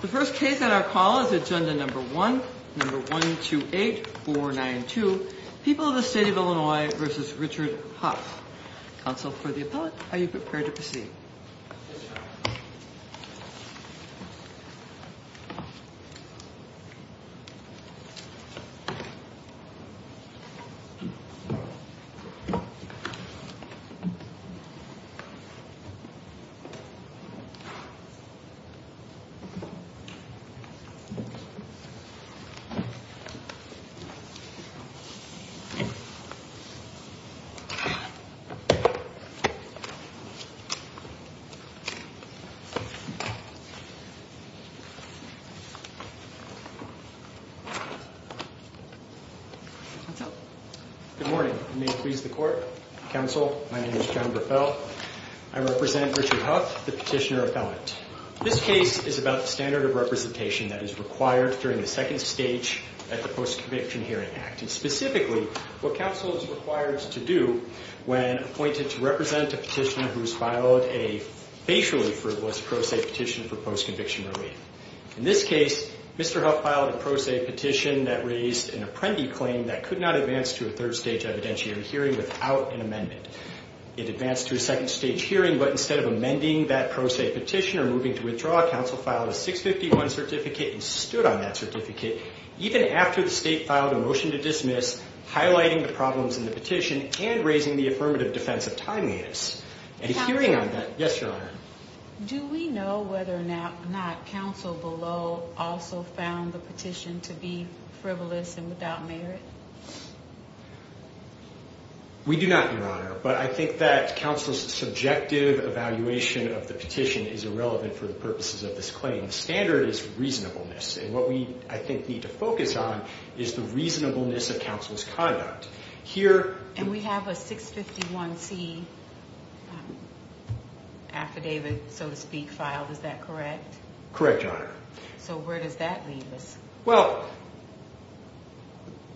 The first case on our call is agenda number one, number 128492, People of the State of Illinois versus Richard Huff. Counsel for the appellate, are you prepared to proceed? Good morning, and may it please the court, counsel, my name is John Graffel, I represent Richard Huff, the petitioner appellate. This case is about the standard of representation that is required during the second stage at the Post-Conviction Hearing Act, and specifically, what counsel is required to do when appointed to represent a petitioner who has filed a facially frivolous pro se petition for post-conviction relief. In this case, Mr. Huff filed a pro se petition that raised an apprendee claim that could not advance to a third stage evidentiary hearing without an amendment. It advanced to a second stage hearing, but instead of amending that pro se petition or moving to withdraw, counsel filed a 651 certificate and stood on that certificate, even after the state filed a motion to dismiss, highlighting the problems in the petition and raising the affirmative defense of timeliness. And hearing on that, yes, your honor. Do we know whether or not counsel below also found the petition to be frivolous and without merit? We do not, your honor, but I think that counsel's subjective evaluation of the petition is irrelevant for the purposes of this claim. The standard is reasonableness, and what we, I think, need to focus on is the reasonableness of counsel's conduct. Here- And we have a 651C affidavit, so to speak, filed, is that correct? Correct, your honor. So where does that leave us? Well,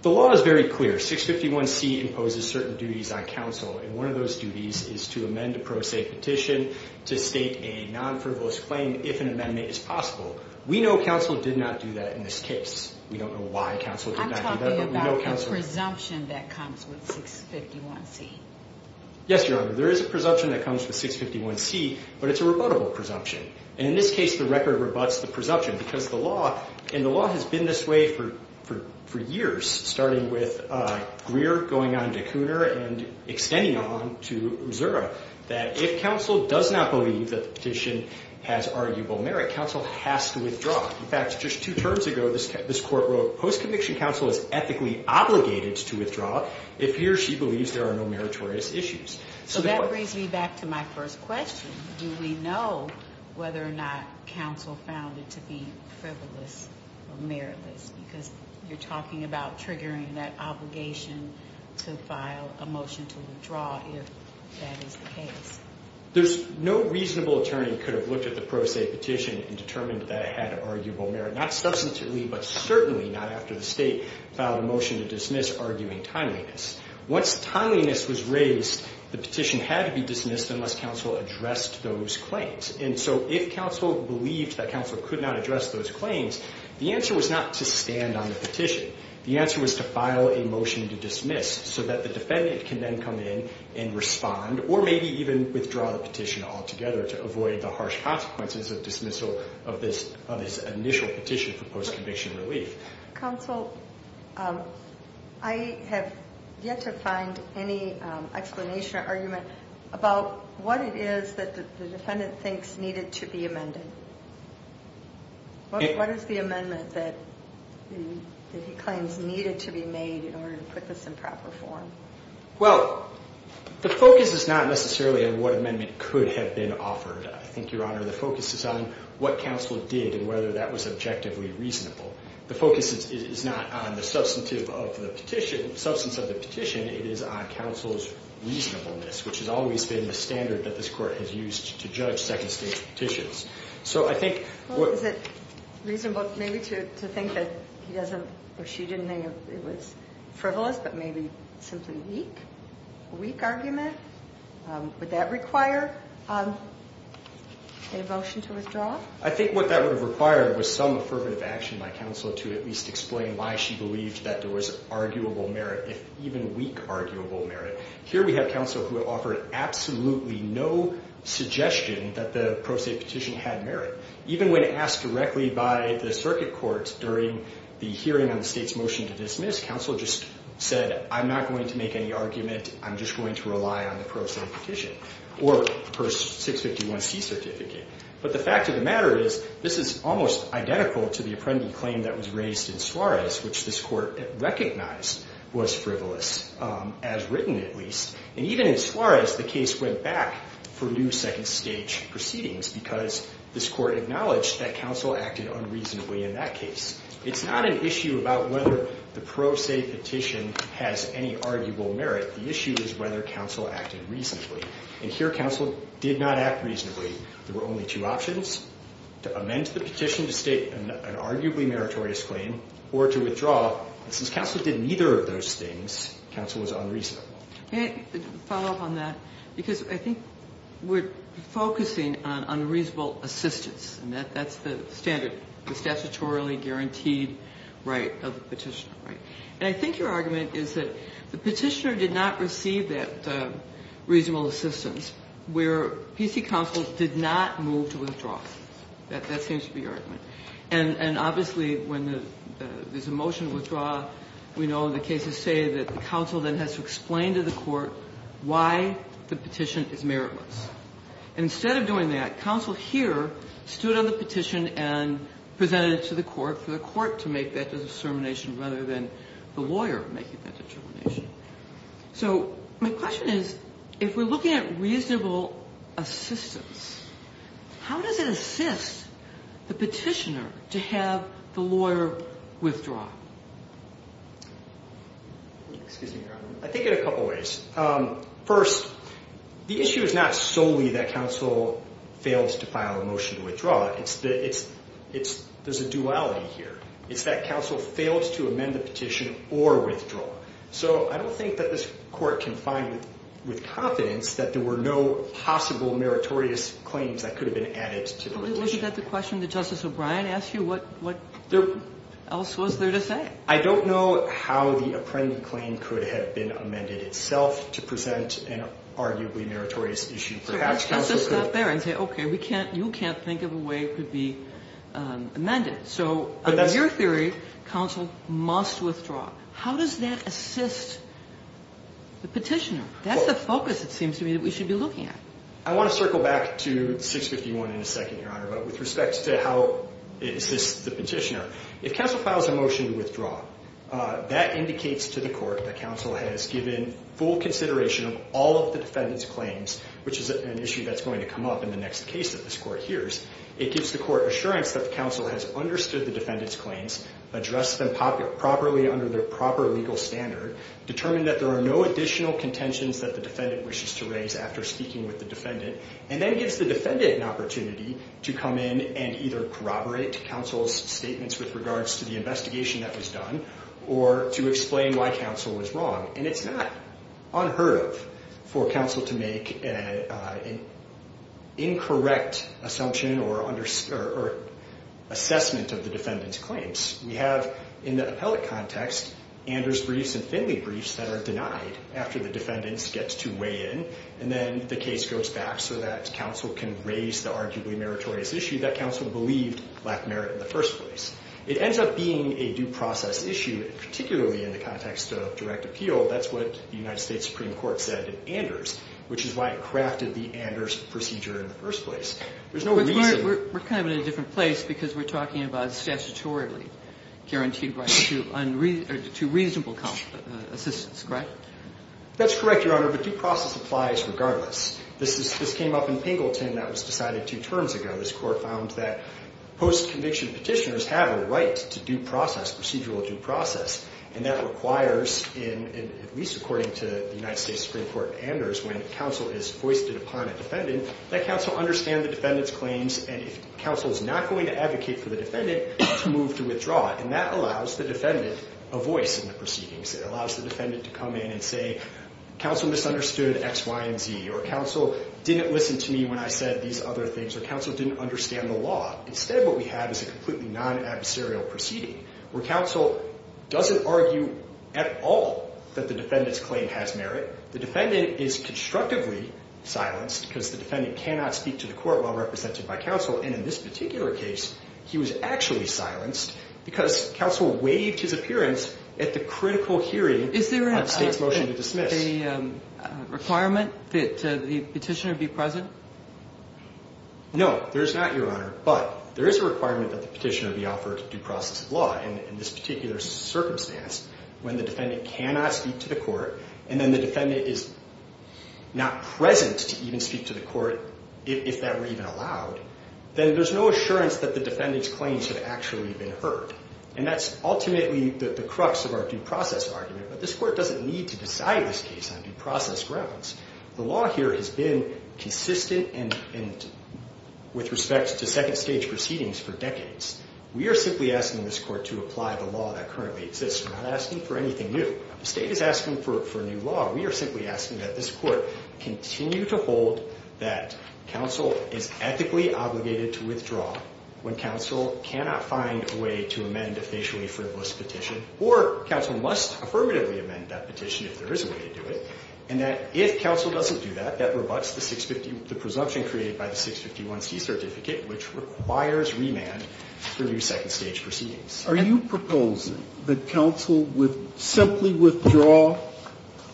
the law is very clear. 651C imposes certain duties on counsel, and one of those duties is to amend a pro se petition to state a non-frivolous claim if an amendment is possible. We know counsel did not do that in this case. We don't know why counsel did not do that, but we know counsel- I'm talking about the presumption that comes with 651C. Yes, your honor. There is a presumption that comes with 651C, but it's a rebuttable presumption, and in this case, the record rebuts the presumption because the law, and the law has been this way for years, starting with Greer going on to Cooner and extending on to Zura, that if counsel does not believe that the petition has arguable merit, counsel has to withdraw. In fact, just two terms ago, this court wrote, post-conviction counsel is ethically obligated to withdraw if he or she believes there are no meritorious issues. So that brings me back to my first question. Do we know whether or not counsel found it to be frivolous or meritless? Because you're talking about triggering that obligation to file a motion to withdraw if that is the case. There's no reasonable attorney could have looked at the pro se petition and determined that it had arguable merit, not substantively, but certainly not after the state filed a motion to dismiss arguing timeliness. Once timeliness was raised, the petition had to be dismissed unless counsel addressed those claims. And so if counsel believed that counsel could not address those claims, the answer was not to stand on the petition. The answer was to file a motion to dismiss so that the defendant can then come in and respond or maybe even withdraw the petition altogether to avoid the harsh consequences of dismissal of this initial petition for post-conviction relief. Counsel, I have yet to find any explanation or argument about what it is that the defendant thinks needed to be amended. What is the amendment that he claims needed to be made in order to put this in proper form? Well, the focus is not necessarily on what amendment could have been offered. I think, Your Honor, the focus is on what counsel did and whether that was objectively reasonable. The focus is not on the substantive of the petition, the substance of the petition, it is on counsel's reasonableness, which has always been the standard that this Court has used to judge second-stage petitions. So I think... Well, is it reasonable maybe to think that he doesn't or she didn't think it was frivolous but maybe simply weak, a weak argument? Would that require a motion to withdraw? I think what that would have required was some affirmative action by counsel to at least explain why she believed that there was arguable merit, if even weak arguable merit. Here we have counsel who have offered absolutely no suggestion that the pro se petition had merit. Even when asked directly by the Circuit Court during the hearing on the State's motion to dismiss, counsel just said, I'm not going to make any argument, I'm just going to rely on the pro se petition or her 651C certificate. But the fact of the matter is, this is almost identical to the Apprendi claim that was raised in Suarez, which this Court recognized was frivolous, as written at least. And even in Suarez, the case went back for new second-stage proceedings because this Court acknowledged that counsel acted unreasonably in that case. It's not an issue about whether the pro se petition has any arguable merit, the issue is whether counsel acted reasonably. And here, counsel did not act reasonably, there were only two options, to amend the petition to state an arguably meritorious claim, or to withdraw, and since counsel did neither of those things, counsel was unreasonable. Can I follow up on that? Because I think we're focusing on unreasonable assistance, and that's the standard, the statutorily guaranteed right of the petitioner, and I think your argument is that the petitioner did not receive that reasonable assistance, where PC counsel did not move to withdraw. That seems to be your argument. And obviously, when there's a motion to withdraw, we know the cases say that the counsel then has to explain to the court why the petition is meritless. Instead of doing that, counsel here stood on the petition and presented it to the court, for the court to make that determination rather than the lawyer making that determination. So my question is, if we're looking at reasonable assistance, how does it assist the petitioner to have the lawyer withdraw? Excuse me, Your Honor, I think in a couple of ways. First, the issue is not solely that counsel fails to file a motion to withdraw, there's a duality here. It's that counsel fails to amend the petition or withdraw. So I don't think that this Court can find with confidence that there were no possible meritorious claims that could have been added to the petition. Was that the question that Justice O'Brien asked you? What else was there to say? I don't know how the apprendee claim could have been amended itself to present an arguably meritorious issue. Perhaps counsel could... Let's just stop there and say, okay, you can't think of a way it could be amended. So in your theory, counsel must withdraw. How does that assist the petitioner? That's the focus, it seems to me, that we should be looking at. I want to circle back to 651 in a second, Your Honor, but with respect to how it assists the petitioner, if counsel files a motion to withdraw, that indicates to the Court that counsel has given full consideration of all of the defendant's claims, which is an issue that's going to come up in the next case that this Court hears. It gives the Court assurance that the counsel has understood the defendant's claims, addressed them properly under the proper legal standard, determined that there are no additional contentions that the defendant wishes to raise after speaking with the defendant, and then gives the defendant an opportunity to come in and either corroborate counsel's statements with regards to the investigation that was done, or to explain why counsel was wrong. And it's not unheard of for counsel to make an incorrect assumption or assessment of the defendant's claims. We have, in the appellate context, Anders briefs and Finley briefs that are denied after the defendant gets to weigh in, and then the case goes back so that counsel can raise the arguably meritorious issue that counsel believed lacked merit in the first place. It ends up being a due process issue, particularly in the context of direct appeal. That's what the United States Supreme Court said in Anders, which is why it crafted the Anders procedure in the first place. There's no reason... Guaranteed right to reasonable assistance, correct? That's correct, Your Honor, but due process applies regardless. This came up in Pingleton that was decided two terms ago. This court found that post-conviction petitioners have a right to due process, procedural due process. And that requires, at least according to the United States Supreme Court Anders, when counsel is foisted upon a defendant, that counsel understand the defendant's claims, and if to withdraw. And that allows the defendant a voice in the proceedings. It allows the defendant to come in and say, counsel misunderstood X, Y, and Z, or counsel didn't listen to me when I said these other things, or counsel didn't understand the law. Instead, what we have is a completely non-adversarial proceeding where counsel doesn't argue at all that the defendant's claim has merit. The defendant is constructively silenced because the defendant cannot speak to the court while Because counsel waived his appearance at the critical hearing on the state's motion to dismiss. Is there a requirement that the petitioner be present? No, there is not, Your Honor, but there is a requirement that the petitioner be offered due process of law in this particular circumstance when the defendant cannot speak to the court, and then the defendant is not present to even speak to the court if that were even allowed. Then there's no assurance that the defendant's claims have actually been heard. And that's ultimately the crux of our due process argument, but this court doesn't need to decide this case on due process grounds. The law here has been consistent with respect to second stage proceedings for decades. We are simply asking this court to apply the law that currently exists. We're not asking for anything new. The state is asking for new law. We are simply asking that this court continue to hold that counsel is ethically obligated to withdraw when counsel cannot find a way to amend a facially frivolous petition, or counsel must affirmatively amend that petition if there is a way to do it, and that if counsel doesn't do that, that rebuts the presumption created by the 651C certificate, which requires remand for new second stage proceedings. Are you proposing that counsel simply withdraw,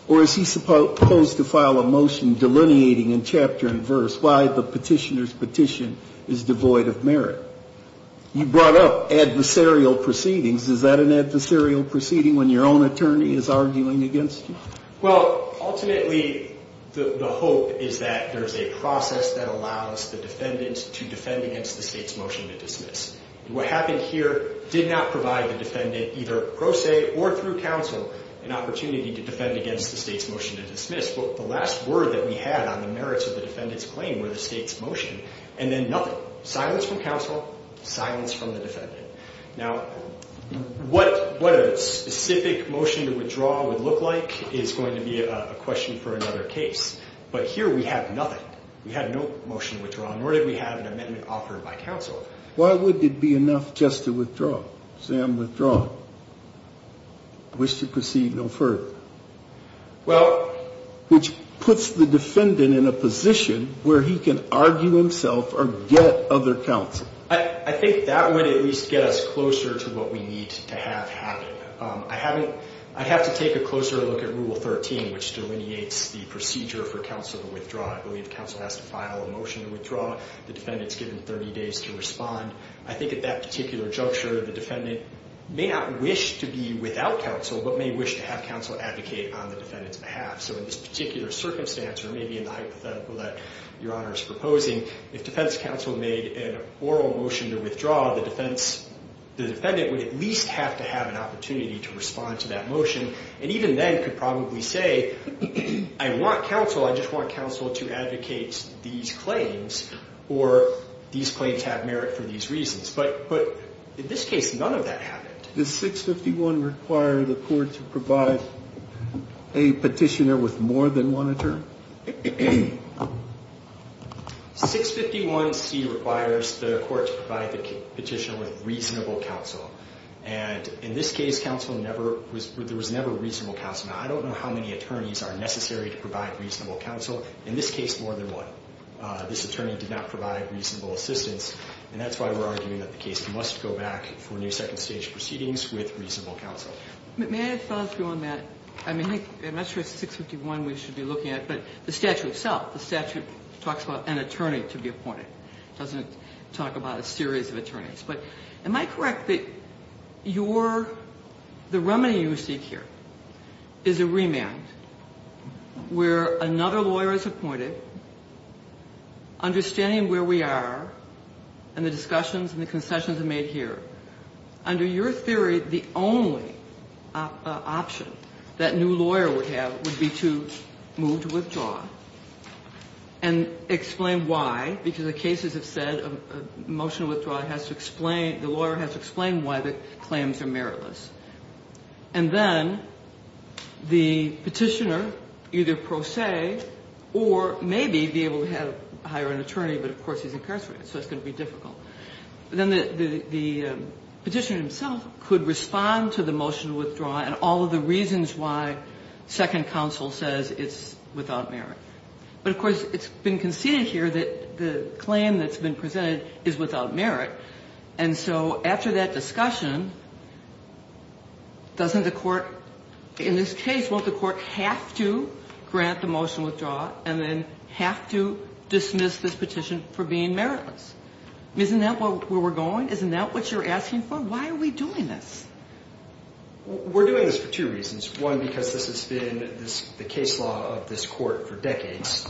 or is he supposed to file a motion delineating in chapter and verse why the petitioner's petition is devoid of merit? You brought up adversarial proceedings. Is that an adversarial proceeding when your own attorney is arguing against you? Well, ultimately, the hope is that there's a process that allows the defendant to defend against the state's motion to dismiss. What happened here did not provide the defendant, either pro se or through counsel, an opportunity to defend against the state's motion to dismiss. The last word that we had on the merits of the defendant's claim were the state's motion, and then nothing. Silence from counsel, silence from the defendant. Now, what a specific motion to withdraw would look like is going to be a question for another case. But here, we have nothing. We have no motion to withdraw, nor did we have an amendment offered by counsel. Why would it be enough just to withdraw? Say I'm withdrawing, I wish to proceed no further, which puts the defendant in a position where he can argue himself or get other counsel. I think that would at least get us closer to what we need to have happen. I have to take a closer look at Rule 13, which delineates the procedure for counsel to withdraw. I believe counsel has to file a motion to withdraw. The defendant's given 30 days to respond. I think at that particular juncture, the defendant may not wish to be without counsel, but may wish to have counsel advocate on the defendant's behalf. So in this particular circumstance, or maybe in the hypothetical that Your Honor is proposing, if defense counsel made an oral motion to withdraw, the defendant would at least have to have an opportunity to respond to that motion, and even then could probably say, I want counsel, I just want counsel to advocate these claims, or these claims have merit for these reasons. But in this case, none of that happened. Does 651 require the court to provide a petitioner with more than one attorney? 651C requires the court to provide the petitioner with reasonable counsel. And in this case, there was never reasonable counsel. Now, I don't know how many attorneys are necessary to provide reasonable counsel. In this case, more than one. This attorney did not provide reasonable assistance, and that's why we're arguing that the case must go back for new second stage proceedings with reasonable counsel. May I follow through on that? I mean, I'm not sure it's 651 we should be looking at, but the statute itself, the statute talks about an attorney to be appointed. It doesn't talk about a series of attorneys. But am I correct that your, the remedy you seek here, is a remand where another lawyer is appointed, understanding where we are, and the discussions and the concessions are made here. Under your theory, the only option that new lawyer would have would be to move to withdraw and explain why, because the cases have said a motion of withdrawal has to explain, the lawyer has to explain why the claims are meritless. And then the petitioner either pro se, or maybe be able to hire an attorney, but of course he's incarcerated, so it's going to be difficult. Then the petitioner himself could respond to the motion of withdrawal and all of the reasons why second counsel says it's without merit. But of course, it's been conceded here that the claim that's been presented is without merit. And so after that discussion, doesn't the court, in this case, won't the court have to grant the motion of withdrawal, and then have to dismiss this petition for being meritless? Isn't that where we're going? Isn't that what you're asking for? Why are we doing this? We're doing this for two reasons. One, because this has been the case law of this court for decades.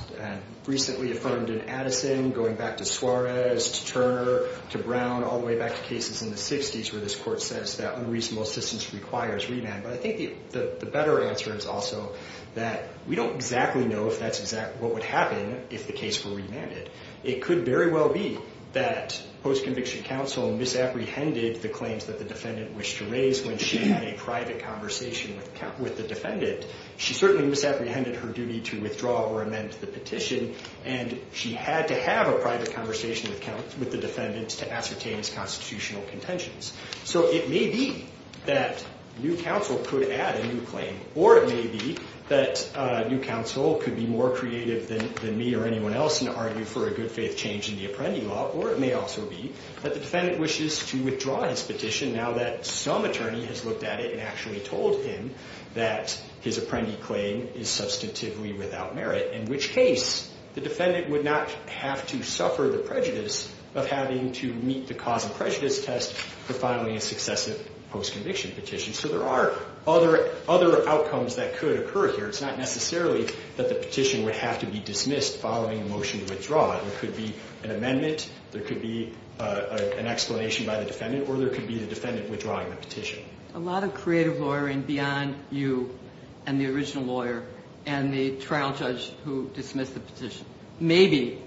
Recently affirmed in Addison, going back to Suarez, to Turner, to Brown, all the way back to cases in the 60s, where this court says that unreasonable assistance requires remand. But I think the better answer is also that we don't exactly know if that's exactly what would happen if the case were remanded. It could very well be that post-conviction counsel misapprehended the claims that the defendant wished to raise when she had a private conversation with the defendant. She certainly misapprehended her duty to withdraw or amend the petition. And she had to have a private conversation with the defendant to ascertain his constitutional contentions. So it may be that new counsel could add a new claim. Or it may be that new counsel could be more creative than me or anyone else and argue for a good faith change in the appending law. Or it may also be that the defendant wishes to withdraw his petition now that some attorney has looked at it and actually told him that his apprendee claim is substantively without merit. In which case, the defendant would not have to suffer the prejudice of having to meet the cause of prejudice test for filing a successive post-conviction petition. So there are other outcomes that could occur here. It's not necessarily that the petition would have to be dismissed following a motion to withdraw. It could be an amendment. There could be an explanation by the defendant. Or there could be the defendant withdrawing the petition. A lot of creative lawyering beyond you and the original lawyer and the trial judge who dismissed the petition. Maybe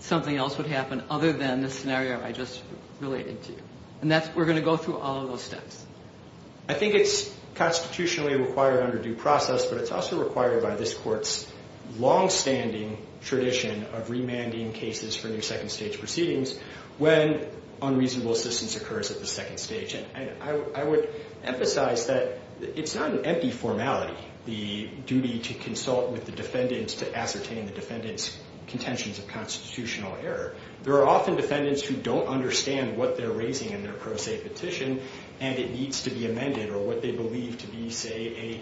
something else would happen other than the scenario I just related to. And we're going to go through all of those steps. I think it's constitutionally required under due process. But it's also required by this court's longstanding tradition of remanding cases for new second stage proceedings when unreasonable assistance occurs at the second stage. I would emphasize that it's not an empty formality. The duty to consult with the defendants to ascertain the defendant's contentions of constitutional error. There are often defendants who don't understand what they're raising in their pro se petition. And it needs to be amended. Or what they believe to be, say,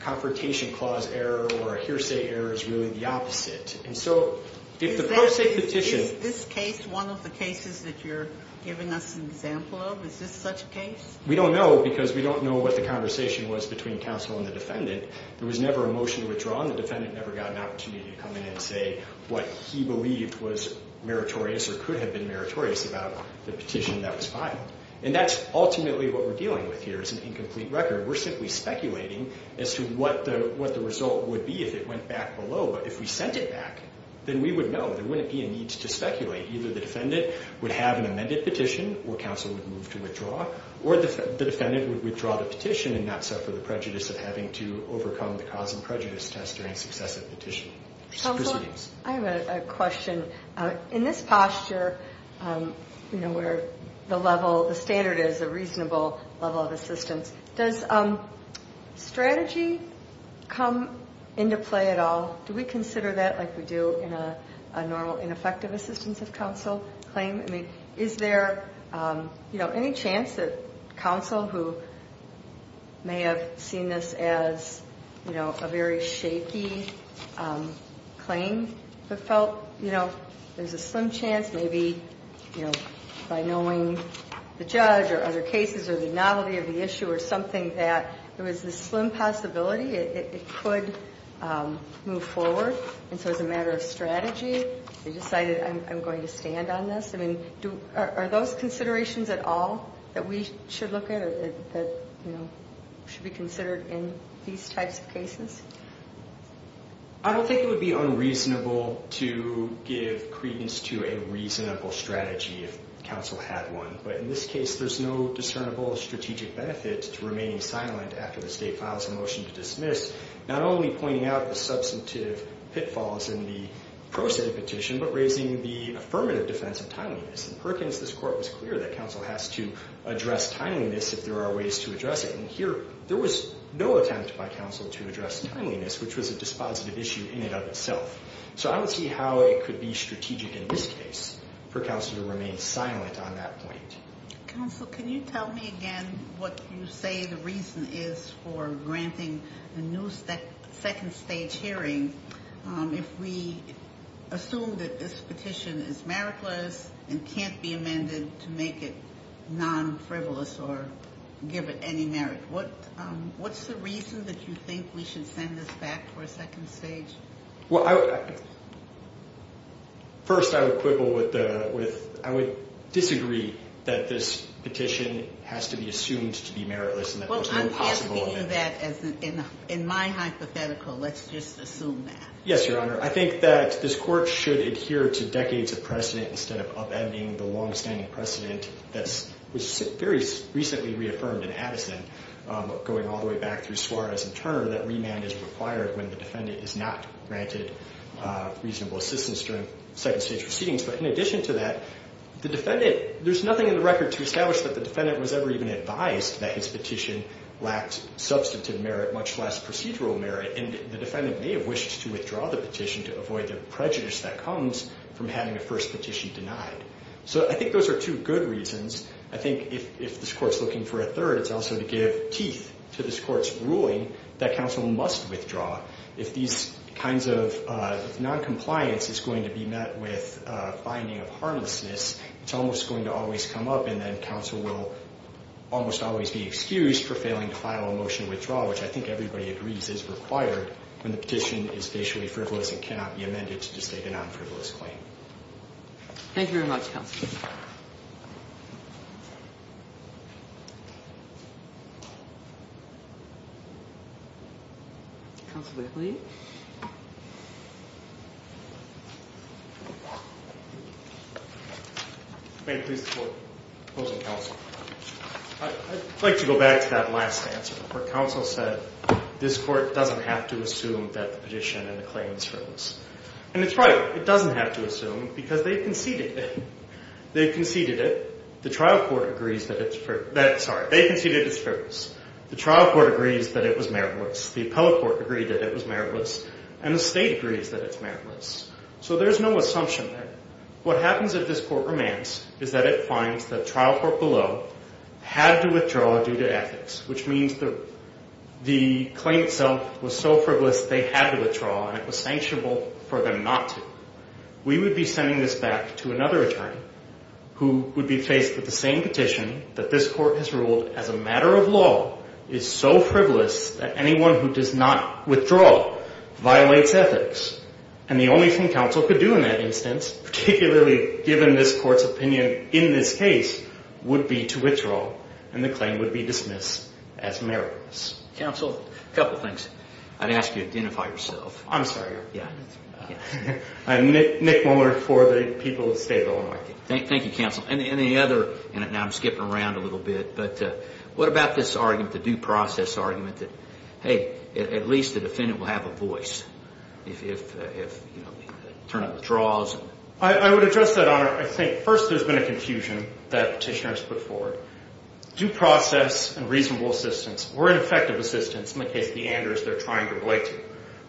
a confrontation clause error or a hearsay error is really the opposite. And so if the pro se petition. Is this case one of the cases that you're giving us an example of? Is this such a case? We don't know because we don't know what the conversation was between counsel and the defendant. There was never a motion withdrawn. The defendant never got an opportunity to come in and say what he believed was meritorious or could have been meritorious about the petition that was filed. And that's ultimately what we're dealing with here is an incomplete record. We're simply speculating as to what the result would be if it went back below. But if we sent it back, then we would know. There wouldn't be a need to speculate. Either the defendant would have an amended petition or counsel would move to withdraw. Or the defendant would withdraw the petition and not suffer the prejudice of having to overcome the cause and prejudice test during successive petitions. Counsel, I have a question. In this posture, where the level, the standard is a reasonable level of assistance, does strategy come into play at all? Do we consider that like we do in a normal ineffective assistance of counsel claim? Is there any chance that counsel, who may have seen this as a very shaky claim, but felt there's a slim chance maybe by knowing the judge or other cases or the novelty of the issue or something that there was this slim possibility it could move forward? And so as a matter of strategy, they decided I'm going to stand on this? Are those considerations at all that we should look at or that should be considered in these types of cases? I don't think it would be unreasonable to give credence to a reasonable strategy if counsel had one. But in this case, there's no discernible strategic benefit to remaining silent after the state files a motion to dismiss, not only pointing out the substantive pitfalls in the proceded petition, but raising the affirmative defense of timeliness. In Perkins, this court was clear that counsel has to address timeliness if there are ways to address it. And here, there was no attempt by counsel to address timeliness, which was a dispositive issue in and of itself. So I would see how it could be strategic in this case for counsel to remain silent on that point. Counsel, can you tell me again what you say the reason is for granting a new second stage hearing if we assume that this petition is meritless and can't be amended to make it non-frivolous or give it any merit? What's the reason that you think we should send this back for a second stage? Well, first, I would quibble with, I would disagree that this petition has to be assumed to be meritless. Well, I'm thinking of that as, in my hypothetical, let's just assume that. Yes, Your Honor. I think that this court should adhere to decades of precedent instead of upending the longstanding precedent that was very recently reaffirmed in Addison, going all the way back through Suarez and Turner, that remand is required when the defendant is not granted reasonable assistance during second stage proceedings. But in addition to that, the defendant, there's nothing in the record to establish that the defendant was ever even advised that his petition lacked substantive merit, much less procedural merit. And the defendant may have wished to withdraw the petition to avoid the prejudice that comes from having a first petition denied. So I think those are two good reasons. I think if this court's looking for a third, it's also to give teeth to this court's ruling that counsel must withdraw. If these kinds of noncompliance is going to be met with a finding of harmlessness, it's almost going to always come up and then counsel will almost always be excused for failing to file a motion to withdraw, which I think everybody agrees is required when the petition is facially frivolous and cannot be amended to state a non-frivolous claim. Thank you very much, Counselor. Counsel Bickley. May it please the Court, opposing counsel. I'd like to go back to that last answer where counsel said, this court doesn't have to assume that the petition and the claim is frivolous. And it's right, it doesn't have to assume because they conceded it. They conceded it. The trial court agrees that it's frivolous. The trial court agrees that it was meritless. The appellate court agreed that it was meritless. And the state agrees that it's meritless. So there's no assumption there. What happens if this court remands is that it finds the trial court below had to withdraw due to ethics, which means the claim itself was so frivolous they had to withdraw and it was sanctionable for them not to. We would be sending this back to another attorney who would be faced with the same petition that this court has ruled as a matter of law is so frivolous that anyone who does not withdraw violates ethics. And the only thing counsel could do in that instance, particularly given this court's opinion in this case, would be to withdraw and the claim would be dismissed as meritless. Counsel, a couple things. I'd ask you to identify yourself. I'm sorry. Yeah. I'm Nick Muller for the people of the state of Illinois. Thank you, counsel. And the other, and now I'm skipping around a little bit, but what about this argument, the due process argument that, hey, at least the defendant will have a voice if, you know, they turn out withdraws? I would address that, Honor. I think first there's been a confusion that petitioners put forward. Due process and reasonable assistance or ineffective assistance, in the case of the Anders they're trying to relate to,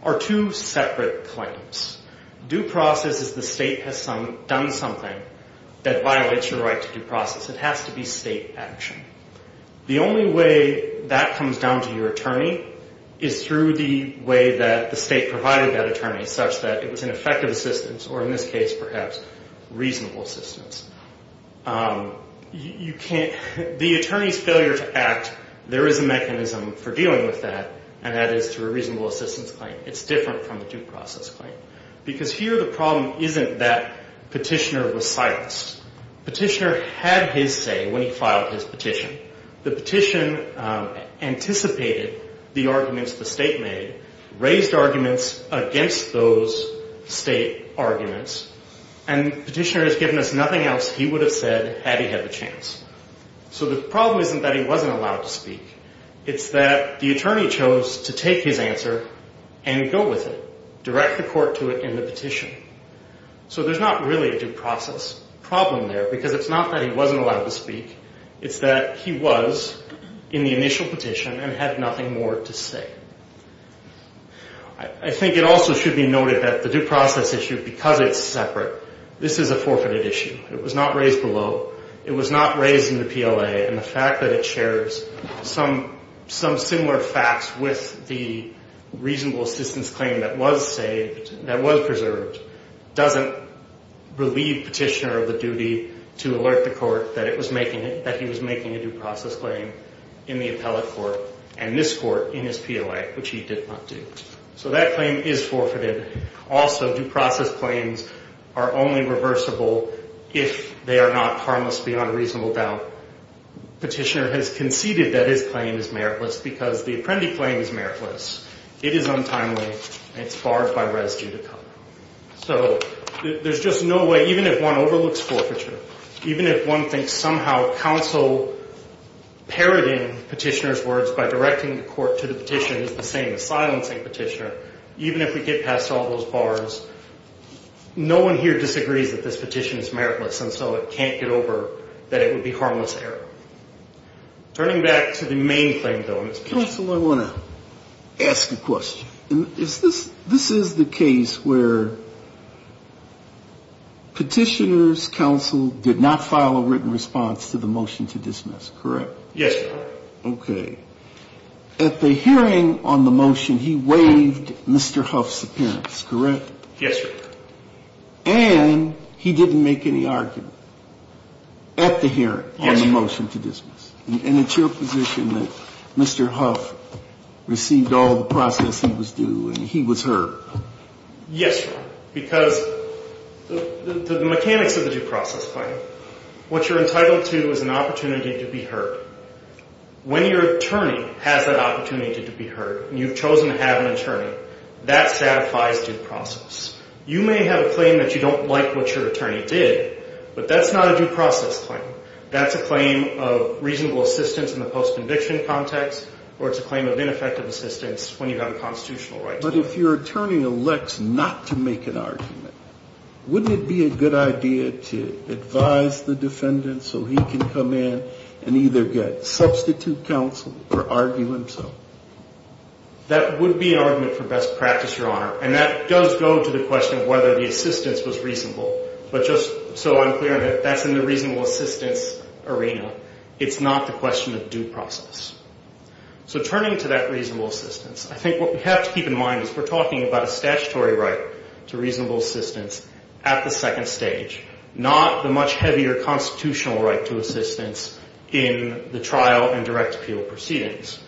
are two separate claims. Due process is the state has done something that violates your right to due process. It has to be state action. The only way that comes down to your attorney is through the way that the state provided that attorney such that it was an effective assistance or in this case perhaps reasonable assistance. You can't, the attorney's failure to act, there is a mechanism for dealing with that and that is through a reasonable assistance claim. It's different from the due process claim. Because here the problem isn't that petitioner was silenced. Petitioner had his say when he filed his petition. The petition anticipated the arguments the state made, raised arguments against those state arguments and petitioner has given us nothing else he would have said had he had the chance. So the problem isn't that he wasn't allowed to speak. It's that the attorney chose to take his answer and go with it, direct the court to it in the petition. So there's not really a due process. Problem there because it's not that he wasn't allowed to speak. It's that he was in the initial petition and had nothing more to say. I think it also should be noted that the due process issue, because it's separate, this is a forfeited issue. It was not raised below. It was not raised in the PLA and the fact that it shares some similar facts with the reasonable assistance claim that was saved, that was preserved, doesn't relieve petitioner of the duty to alert the court that he was making a due process claim in the appellate court and this court in his PLA, which he did not do. So that claim is forfeited. Also, due process claims are only reversible if they are not harmless beyond reasonable doubt. Petitioner has conceded that his claim is meritless because the apprendee claim is meritless. It is untimely and it's barred by residue to come. So there's just no way, even if one overlooks forfeiture, even if one thinks somehow counsel parroting petitioner's words by directing the court to the petition is the same as silencing petitioner, even if we get past all those bars, no one here disagrees that this petition is meritless and so it can't get over that it would be harmless error. Turning back to the main claim, though, Mr. Petitioner. Counsel, I want to ask a question. Is this, this is the case where petitioner's counsel did not file a written response to the motion to dismiss, correct? Yes, Your Honor. Okay. At the hearing on the motion, he waived Mr. Huff's appearance, correct? Yes, Your Honor. And it's your position that Mr. Huff received all the processing that was due and he was heard? Yes, Your Honor, because the mechanics of the due process claim, what you're entitled to is an opportunity to be heard. When your attorney has that opportunity to be heard and you've chosen to have an attorney, that satisfies due process. You may have a claim that you don't like what your attorney did, but that's not a due process claim. That's a claim of reasonable assistance in the post-conviction context, or it's a claim of ineffective assistance when you've got a constitutional right. But if your attorney elects not to make an argument, wouldn't it be a good idea to advise the defendant so he can come in and either get substitute counsel or argue himself? That would be an argument for best practice, Your Honor. And that does go to the question of whether the assistance was reasonable. But just so I'm clear, that's in the reasonable assistance arena. It's not the question of due process. So turning to that reasonable assistance, I think what we have to keep in mind is we're talking about a statutory right to reasonable assistance at the second stage, not the much heavier constitutional right to assistance in the trial and direct appeal proceedings.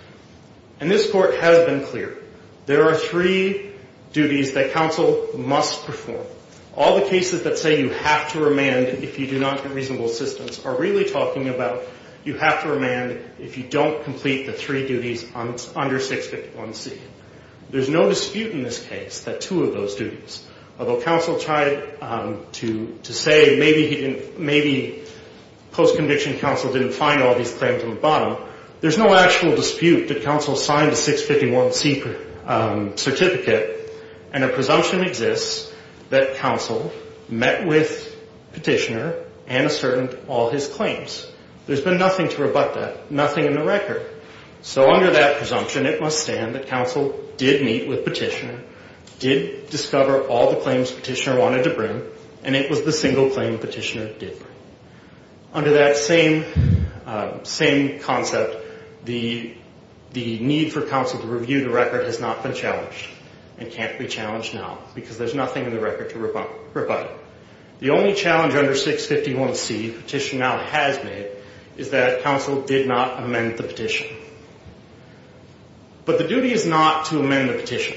And this Court has been clear. There are three duties that counsel must perform. All the cases that say you have to remand if you do not get reasonable assistance are really talking about you have to remand if you don't complete the three duties under 651C. There's no dispute in this case that two of those duties, although counsel tried to say maybe post-conviction counsel didn't find all these claims on the bottom. There's no actual dispute that counsel signed a 651C certificate, and a presumption exists that counsel met with petitioner and asserted all his claims. There's been nothing to rebut that, nothing in the record. So under that presumption, it must stand that counsel did meet with petitioner, did discover all the claims petitioner wanted to bring, and it was the single claim petitioner did bring. Under that same concept, the need for counsel to review the record has not been challenged and can't be challenged now because there's nothing in the record to rebut. The only challenge under 651C petitioner now has made is that counsel did not amend the petition. But the duty is not to amend the petition.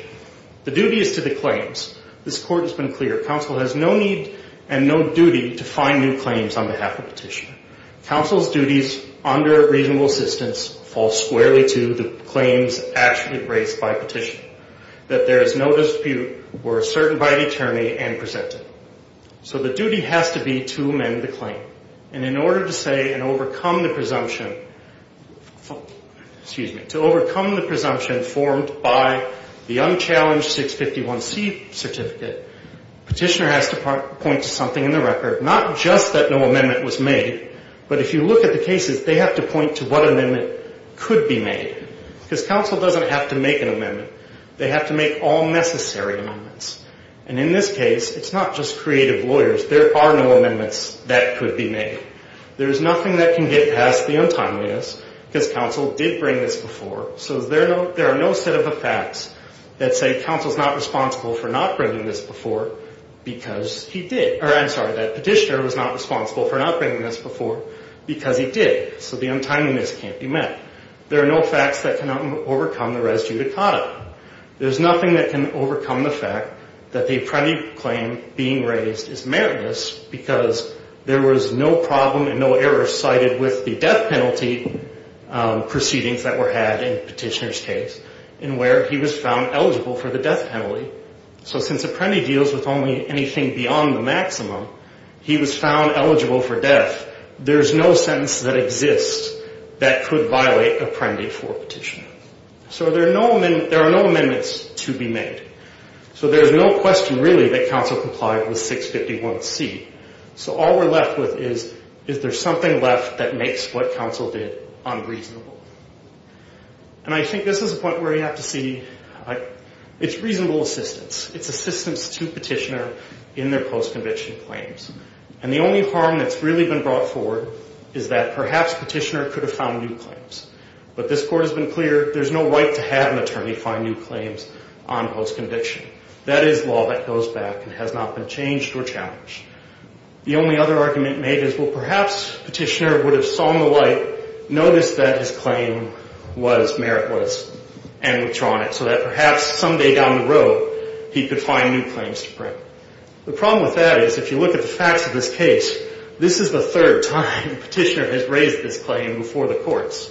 The duty is to the claims. This Court has been clear. Counsel has no need and no duty to find new claims on behalf of petitioner. Counsel's duties under reasonable assistance fall squarely to the claims actually raised by petitioner, that there is no dispute were asserted by the attorney and presented. So the duty has to be to amend the claim. And in order to say and overcome the presumption, excuse me, to overcome the presumption formed by the unchallenged 651C certificate, petitioner has to point to something in the record, not just that no amendment was made, but if you look at the cases, they have to point to what amendment could be made. Because counsel doesn't have to make an amendment. They have to make all necessary amendments. And in this case, it's not just creative lawyers. There are no amendments that could be made. There's nothing that can get past the untimeliness because counsel did bring this before. So there are no set of facts that say counsel's not responsible for not bringing this before because he did, or I'm sorry, that petitioner was not responsible for not bringing this before because he did. So the untimeliness can't be met. There are no facts that can overcome the res judicata. There's nothing that can overcome the fact that the apprentice claim being raised is meritless because there was no problem and no error cited with the death penalty proceedings that were had in petitioner's case and where he was found eligible for the death penalty. So since apprentice deals with only anything beyond the maximum, he was found eligible for death. There's no sentence that exists that could violate apprentice for petitioner. So there are no amendments to be made. So there's no question really that counsel complied with 651C. So all we're left with is, is there something left that makes what counsel did unreasonable? And I think this is a point where you have to see, it's reasonable assistance. It's assistance to petitioner in their post-conviction claims. And the only harm that's really been brought forward is that perhaps petitioner could have found new claims. But this court has been clear, there's no right to have an attorney find new claims on post-conviction. That is law that goes back and has not been changed or challenged. The only other argument made is, well, perhaps petitioner would have sung the light, noticed that his claim was meritless, and withdrawn it so that perhaps someday down the road he could find new claims to print. The problem with that is if you look at the facts of this case, this is the third time petitioner has raised this claim before the courts.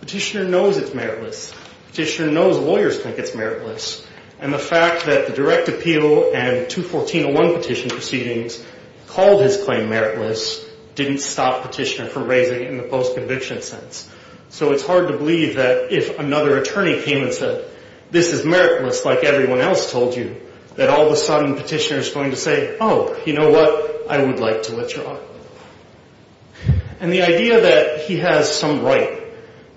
Petitioner knows it's meritless. Petitioner knows lawyers think it's meritless. And the fact that the direct appeal and 21401 petition proceedings called his claim meritless, didn't stop petitioner from raising it in the post-conviction sense. So it's hard to believe that if another attorney came and said, this is meritless like everyone else told you, that all of a sudden petitioner is going to say, oh, you know what? I would like to withdraw. And the idea that he has some right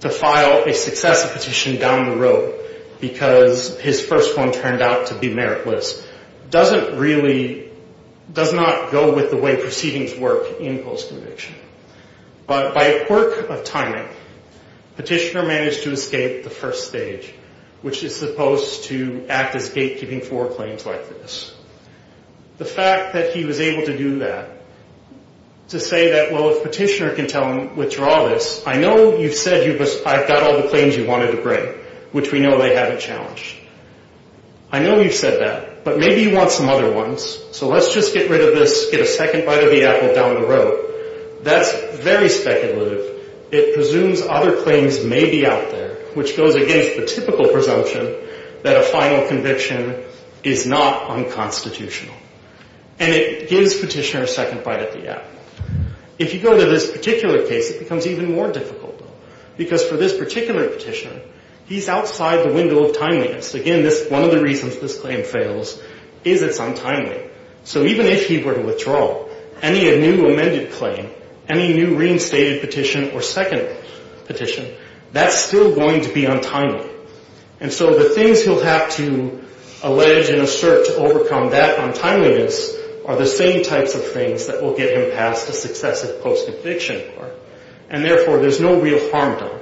to file a successive petition down the road because his first one turned out to be meritless, doesn't really, does not go with the way proceedings work in post-conviction. But by a quirk of timing, petitioner managed to escape the first stage, which is supposed to act as gatekeeping for claims like this. The fact that he was able to do that, to say that, well, if petitioner can tell him, withdraw this, I know you've said I've got all the claims you wanted to bring, which we know they haven't challenged. I know you've said that, but maybe you want some other ones. So let's just get rid of this, get a second bite of the apple down the road. That's very speculative. It presumes other claims may be out there, which goes against the typical presumption that a final conviction is not unconstitutional. And it gives petitioner a second bite at the apple. If you go to this particular case, it becomes even more difficult, because for this particular petitioner, he's outside the window of timeliness. Again, one of the reasons this claim fails is it's untimely. So even if he were to withdraw any new amended claim, any new reinstated petition or second petition, that's still going to be untimely. And so the things he'll have to allege and assert to overcome that untimeliness are the same types of things that will get him past a successive post-conviction court. And therefore, there's no real harm done.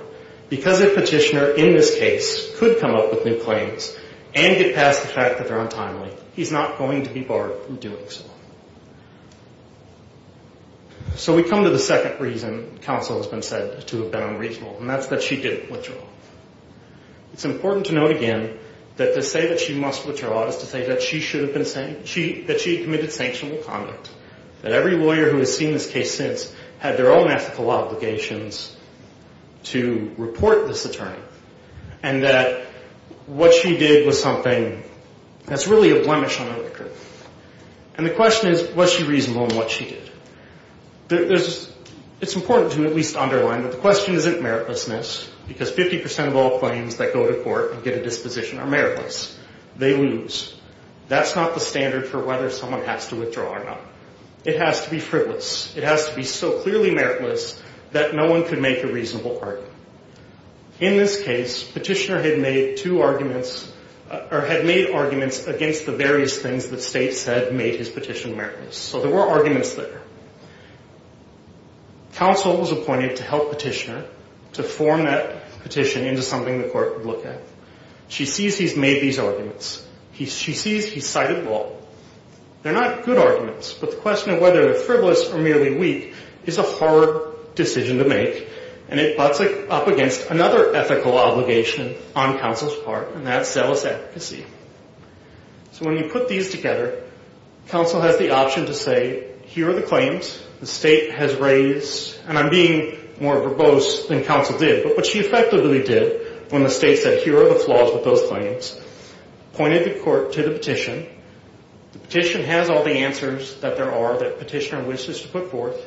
Because a petitioner in this case could come up with new claims and get past the fact that they're untimely, he's not going to be barred from doing so. So we come to the second reason counsel has been said to have been unreasonable, and that's that she didn't withdraw. It's important to note again that to say that she must withdraw is to say that she should have been saying that she committed sanctionable conduct, that every lawyer who has seen this case since had their own ethical obligations to report this attorney, and that what she did was something that's really a blemish on her record. And the question is, was she reasonable in what she did? It's important to at least underline that the question isn't meritlessness, because 50% of all claims that go to court and get a disposition are meritless. They lose. That's not the standard for whether someone has to withdraw or not. It has to be frivolous. It has to be so clearly meritless that no one could make a reasonable argument. In this case, Petitioner had made two arguments, or had made arguments against the various things that State said made his petition meritless, so there were arguments there. Counsel was appointed to help Petitioner to form that petition into something the court would look at. She sees he's made these arguments. She sees he's cited law. They're not good arguments, but the question of whether they're frivolous or merely weak is a hard decision to make, and it butts up against another ethical obligation on counsel's part, and that's zealous advocacy. So when you put these together, counsel has the option to say, here are the claims the State has raised, and I'm being more verbose than counsel did, but what she effectively did when the State said, here are the flaws with those claims, pointed the court to the petition. The petition has all the answers that there are that Petitioner wishes to put forth,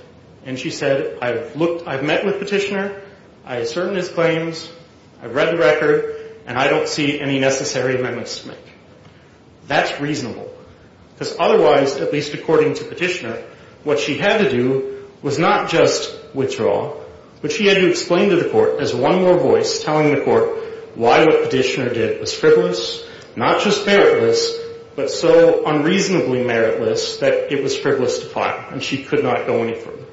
and she said, I've met with Petitioner. I ascertained his claims. I've read the record, and I don't see any necessary amendments to make. That's reasonable, because otherwise, at least according to Petitioner, what she had to do was not just withdraw, but she had to explain to the court as one more voice telling the court why what Petitioner did was frivolous, not just meritless, but so unreasonably meritless that it was frivolous to file, and she could not go any further.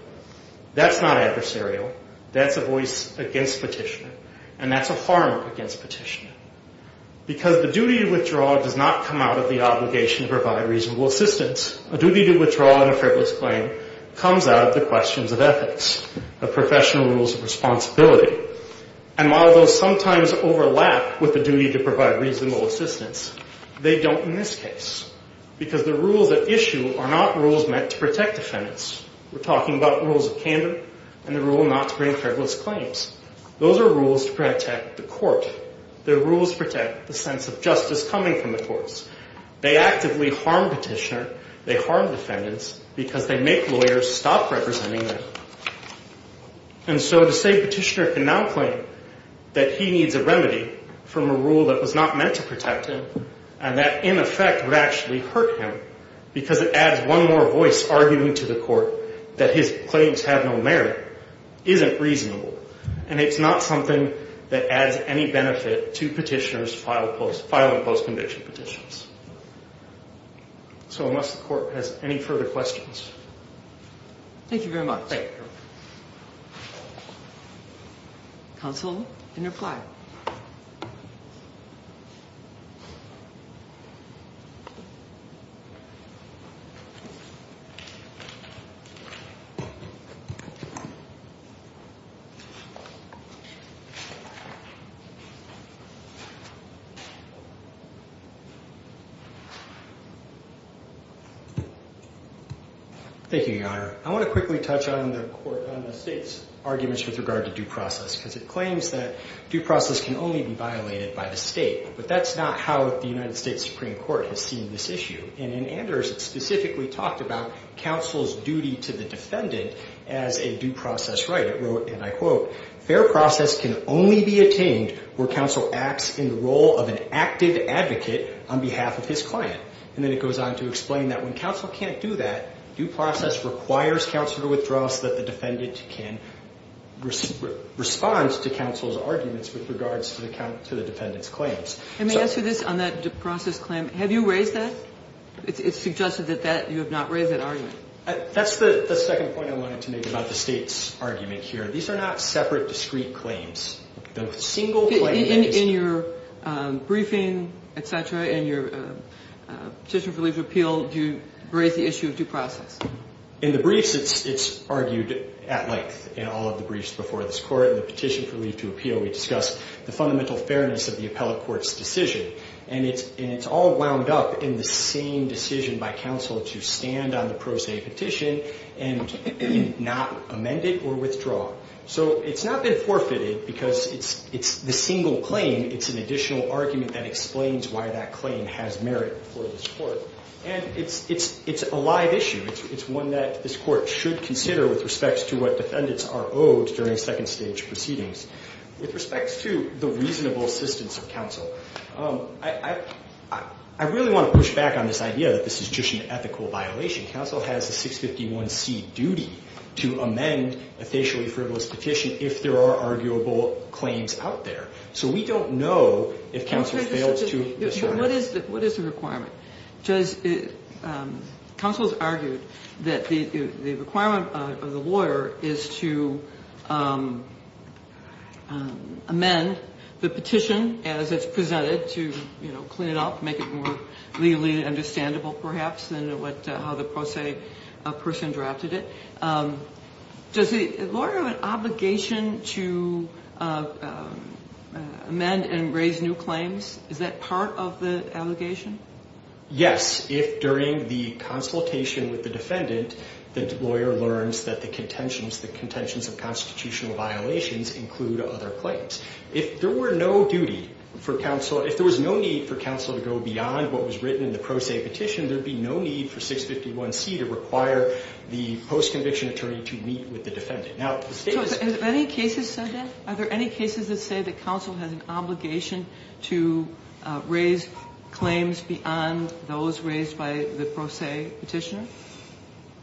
That's not adversarial. That's a voice against Petitioner, and that's a harm against Petitioner, because the duty to withdraw does not come out of the obligation to provide reasonable assistance. A duty to withdraw in a frivolous claim comes out of the questions of ethics, of professional rules of responsibility, and while those sometimes overlap with the duty to provide reasonable assistance, they don't in this case, because the rules at issue are not rules meant to protect defendants. We're talking about rules of candor and the rule not to bring frivolous claims. Those are rules to protect the court. They're rules to protect the sense of justice coming from the courts. They actively harm Petitioner. They harm defendants because they make lawyers stop representing them, and so to say Petitioner can now claim that he needs a remedy from a rule that was not meant to protect him and that in effect would actually hurt him because it adds one more voice arguing to the court that his claims have no merit isn't reasonable, and it's not something that adds any benefit to Petitioner's filing post-conviction petitions. So unless the court has any further questions. Thank you very much. Thank you. Counsel, you can reply. Thank you, Your Honor. I want to quickly touch on the state's arguments with regard to due process because it claims that due process can only be violated by the state, but that's not how the United States Supreme Court has seen this issue, and in Anders it specifically talked about counsel's duty to the defendant as a due process right. It wrote, and I quote, fair process can only be attained where counsel acts in the role of an active advocate on behalf of his client, and then it goes on to explain that when counsel can't do that, due process requires counsel to withdraw so that the defendant can respond to counsel's arguments with regards to the defendant's claims. Let me ask you this on that due process claim. Have you raised that? It's suggested that you have not raised that argument. That's the second point I wanted to make about the state's argument here. These are not separate discrete claims. In your briefing, et cetera, in your petition for leave to appeal, do you raise the issue of due process? In the briefs, it's argued at length. In all of the briefs before this Court, in the petition for leave to appeal, we discuss the fundamental fairness of the appellate court's decision, and it's all wound up in the same decision by counsel to stand on the pro se petition and not amend it or withdraw. So it's not been forfeited because it's the single claim. It's an additional argument that explains why that claim has merit for this Court, and it's a live issue. It's one that this Court should consider with respect to what defendants are owed during second stage proceedings. With respect to the reasonable assistance of counsel, I really want to push back on this idea that this is just an ethical violation. Counsel has a 651C duty to amend a facially frivolous petition if there are arguable claims out there. So we don't know if counsel fails to disregard it. What is the requirement? Counsel's argued that the requirement of the lawyer is to amend the petition as it's presented to clean it up, make it more legally understandable, perhaps, than how the pro se person drafted it. Does the lawyer have an obligation to amend and raise new claims? Is that part of the allegation? Yes, if during the consultation with the defendant, the lawyer learns that the contentions of constitutional violations include other claims. If there were no duty for counsel, if there was no need for counsel to go beyond what was written in the pro se petition, there'd be no need for 651C to require the post-conviction attorney to meet with the defendant. Now, the state's... So have any cases said that? Are there any cases that say that counsel has an obligation to raise claims beyond those raised by the pro se petitioner?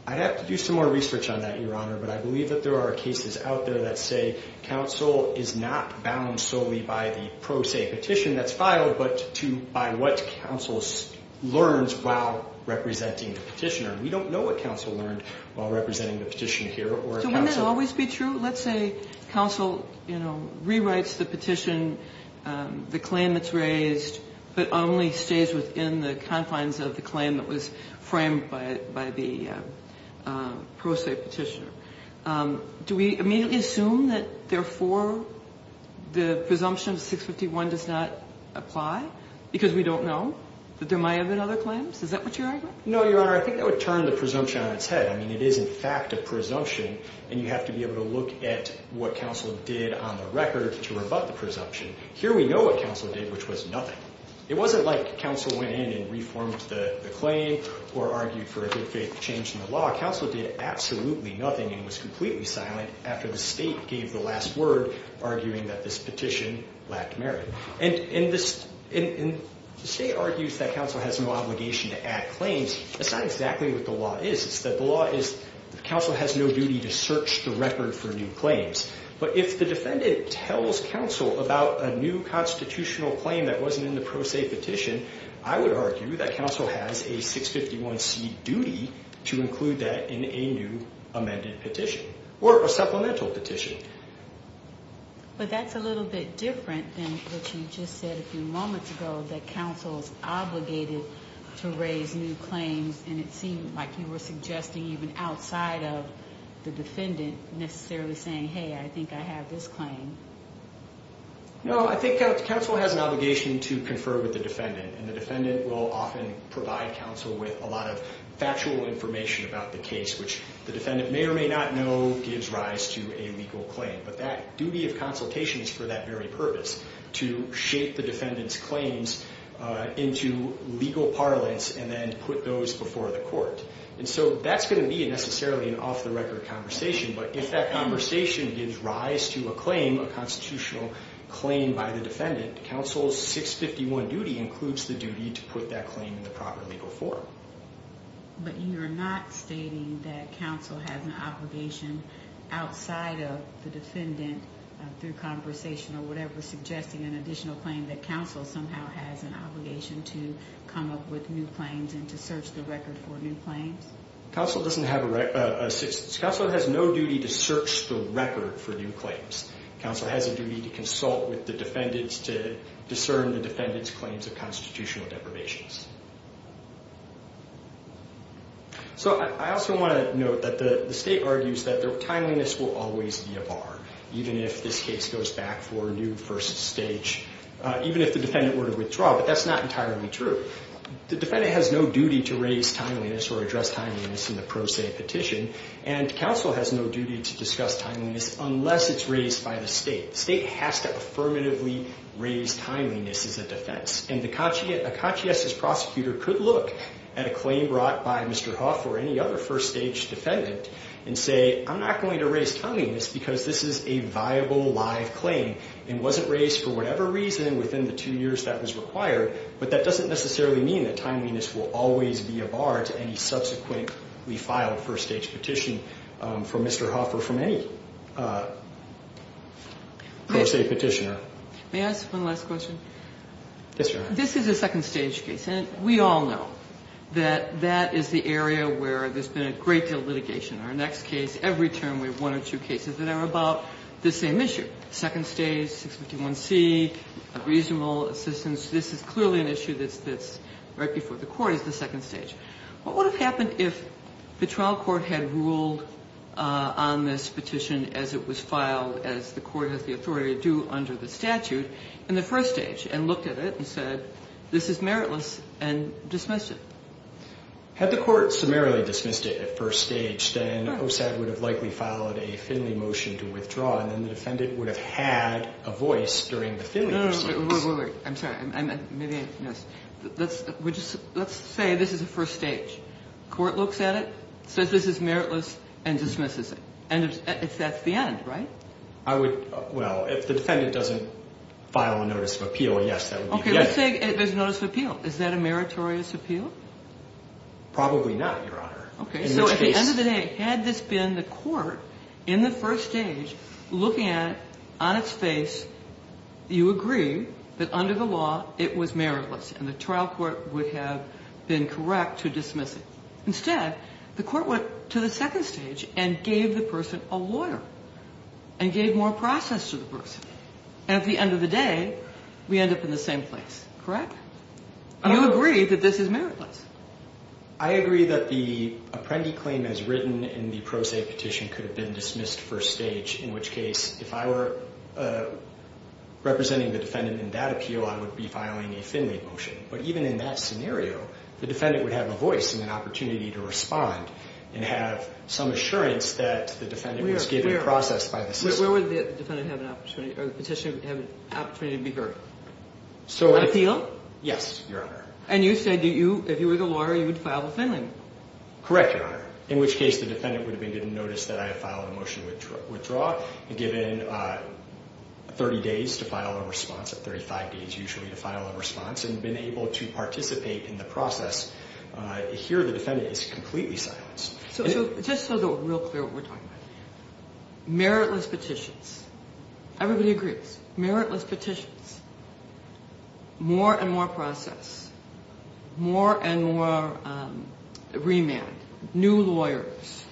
I'd have to do some more research on that, Your Honor, but I believe that there are cases out there that say counsel is not bound solely by the pro se petition that's filed, but by what counsel learns while representing the petitioner. We don't know what counsel learned while representing the petitioner here, or... So wouldn't that always be true? Let's say counsel, you know, rewrites the petition, the claim that's raised, but only stays within the confines of the claim that was framed by the pro se petitioner. Do we immediately assume that, therefore, the presumption of 651 does not apply, because we don't know that there might have been other claims? Is that what you're arguing? No, Your Honor. I think that would turn the presumption on its head. I mean, it is, in fact, a presumption, and you have to be able to look at what counsel did on the record to rebut the presumption. Here we know what counsel did, which was nothing. It wasn't like counsel went in and reformed the claim or argued for a good faith change in the law, counsel did absolutely nothing and was completely silent after the state gave the last word, arguing that this petition lacked merit. And the state argues that counsel has an obligation to add claims. That's not exactly what the law is. It's that the law is counsel has no duty to search the record for new claims. But if the defendant tells counsel about a new constitutional claim that wasn't in the pro se petition, I would argue that counsel has a 651c duty to include that in a new amended petition or a supplemental petition. But that's a little bit different than what you just said a few moments ago, that counsel's obligated to raise new claims, and it seemed like you were suggesting even outside of the defendant necessarily saying, hey, I think I have this claim. No, I think counsel has an obligation to confer with the defendant, and the defendant will often provide counsel with a lot of factual information about the case, which the defendant may or may not know gives rise to a legal claim. But that duty of consultation is for that very purpose, to shape the defendant's claims into legal parlance and then put those before the court. And so that's going to be necessarily an off-the-record conversation, but if that conversation gives rise to a claim, a constitutional claim by the defendant, counsel's 651 duty includes the duty to put that claim in the proper legal form. But you're not stating that counsel has an obligation outside of the defendant through conversation or whatever, suggesting an additional claim that counsel somehow has an obligation to come up with new claims and to search the record for new claims? Counsel doesn't have a right, counsel has no duty to search the record for new claims. Counsel has a duty to consult with the defendants to discern the defendant's claims of constitutional deprivations. So I also want to note that the state argues that their timeliness will always be a bar, even if this case goes back for a new first stage, even if the defendant were to withdraw, but that's not entirely true. The defendant has no duty to raise timeliness or address timeliness in the pro se petition, and counsel has no duty to discuss timeliness unless it's raised by the state. The state has to affirmatively raise timeliness as a defense, and a conscientious prosecutor could look at a claim brought by Mr. Hough or any other first stage defendant and say, I'm not going to raise timeliness because this is a viable live claim and wasn't raised for whatever reason within the two years that was required, but that doesn't necessarily mean that timeliness will always be a bar to any subsequently filed first stage petition from Mr. Hough or from any pro se petitioner. May I ask one last question? Yes, Your Honor. This is a second stage case, and we all know that that is the area where there's been a great deal of litigation. Our next case, every term we have one or two cases that are about the same issue, second stage, 651C, reasonable assistance. This is clearly an issue that's right before the court is the second stage. What would have happened if the trial court had ruled on this petition as it was filed as the court has the authority to do under the statute in the first stage and looked at it and said this is meritless and dismissed it? Had the court summarily dismissed it at first stage, and then the defendant would have had a voice during the filing of the case. I'm sorry, maybe I missed. Let's say this is the first stage. Court looks at it, says this is meritless, and dismisses it. And that's the end, right? I would, well, if the defendant doesn't file a notice of appeal, yes, that would be the end. Okay, let's say there's a notice of appeal. Is that a meritorious appeal? Probably not, Your Honor. Okay, so at the end of the day, had this been the court in the first stage, looking at it on its face, you agree that under the law it was meritless and the trial court would have been correct to dismiss it. Instead, the court went to the second stage and gave the person a lawyer and gave more process to the person. At the end of the day, we end up in the same place, correct? You agree that this is meritless? I agree that the apprendi claim as written in the pro se petition could have been dismissed first stage, in which case if I were representing the defendant in that appeal, I would be filing a Finley motion. But even in that scenario, the defendant would have a voice and an opportunity to respond and have some assurance that the defendant was given process by the system. Where would the petitioner have an opportunity to be heard? An appeal? Yes, Your Honor. And you said if you were the lawyer, you would file the Finley? Correct, Your Honor. In which case the defendant would have been given notice that I have filed a motion to withdraw and given 30 days to file a response, 35 days usually to file a response and been able to participate in the process. Here the defendant is completely silenced. So just so that we're real clear what we're talking about. Meritless petitions. Everybody agrees. Meritless petitions. More and more process. More and more remand. New lawyers.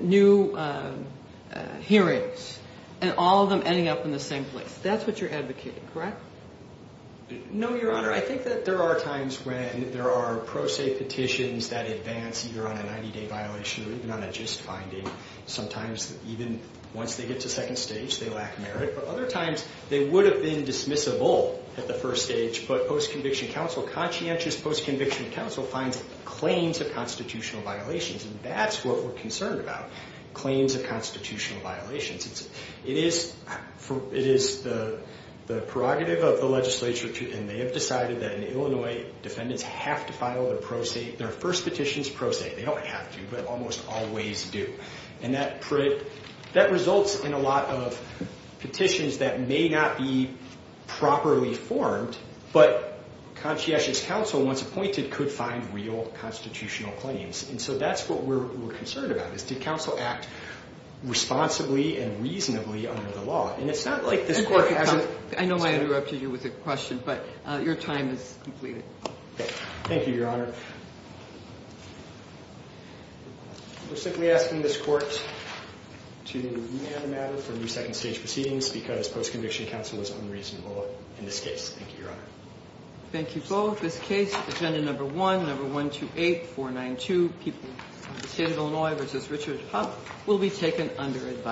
New hearings. And all of them ending up in the same place. That's what you're advocating, correct? No, Your Honor. I think that there are times when there are pro se petitions that advance either on a 90-day violation or even on a gist finding. Sometimes even once they get to second stage, they lack merit. But other times, they would have been dismissable at the first stage. But post-conviction counsel, conscientious post-conviction counsel finds claims of constitutional violations, and that's what we're concerned about. Claims of constitutional violations. It is the prerogative of the legislature, and they have decided that in Illinois, defendants have to file their pro se, their first petitions pro se. They don't have to, but almost always do. And that results in a lot of petitions that may not be properly formed, but conscientious counsel, once appointed, could find real constitutional claims. And so that's what we're concerned about, is did counsel act responsibly and reasonably under the law? And it's not like this court hasn't. I know I interrupted you with a question, but your time is completed. Okay. Thank you, Your Honor. We're simply asking this court to leave the matter for new second stage proceedings because post-conviction counsel was unreasonable in this case. Thank you, Your Honor. Thank you both. This case, Agenda Number 1, Number 128492, People of the State of Illinois v. Richard Huff, will be taken under advisory.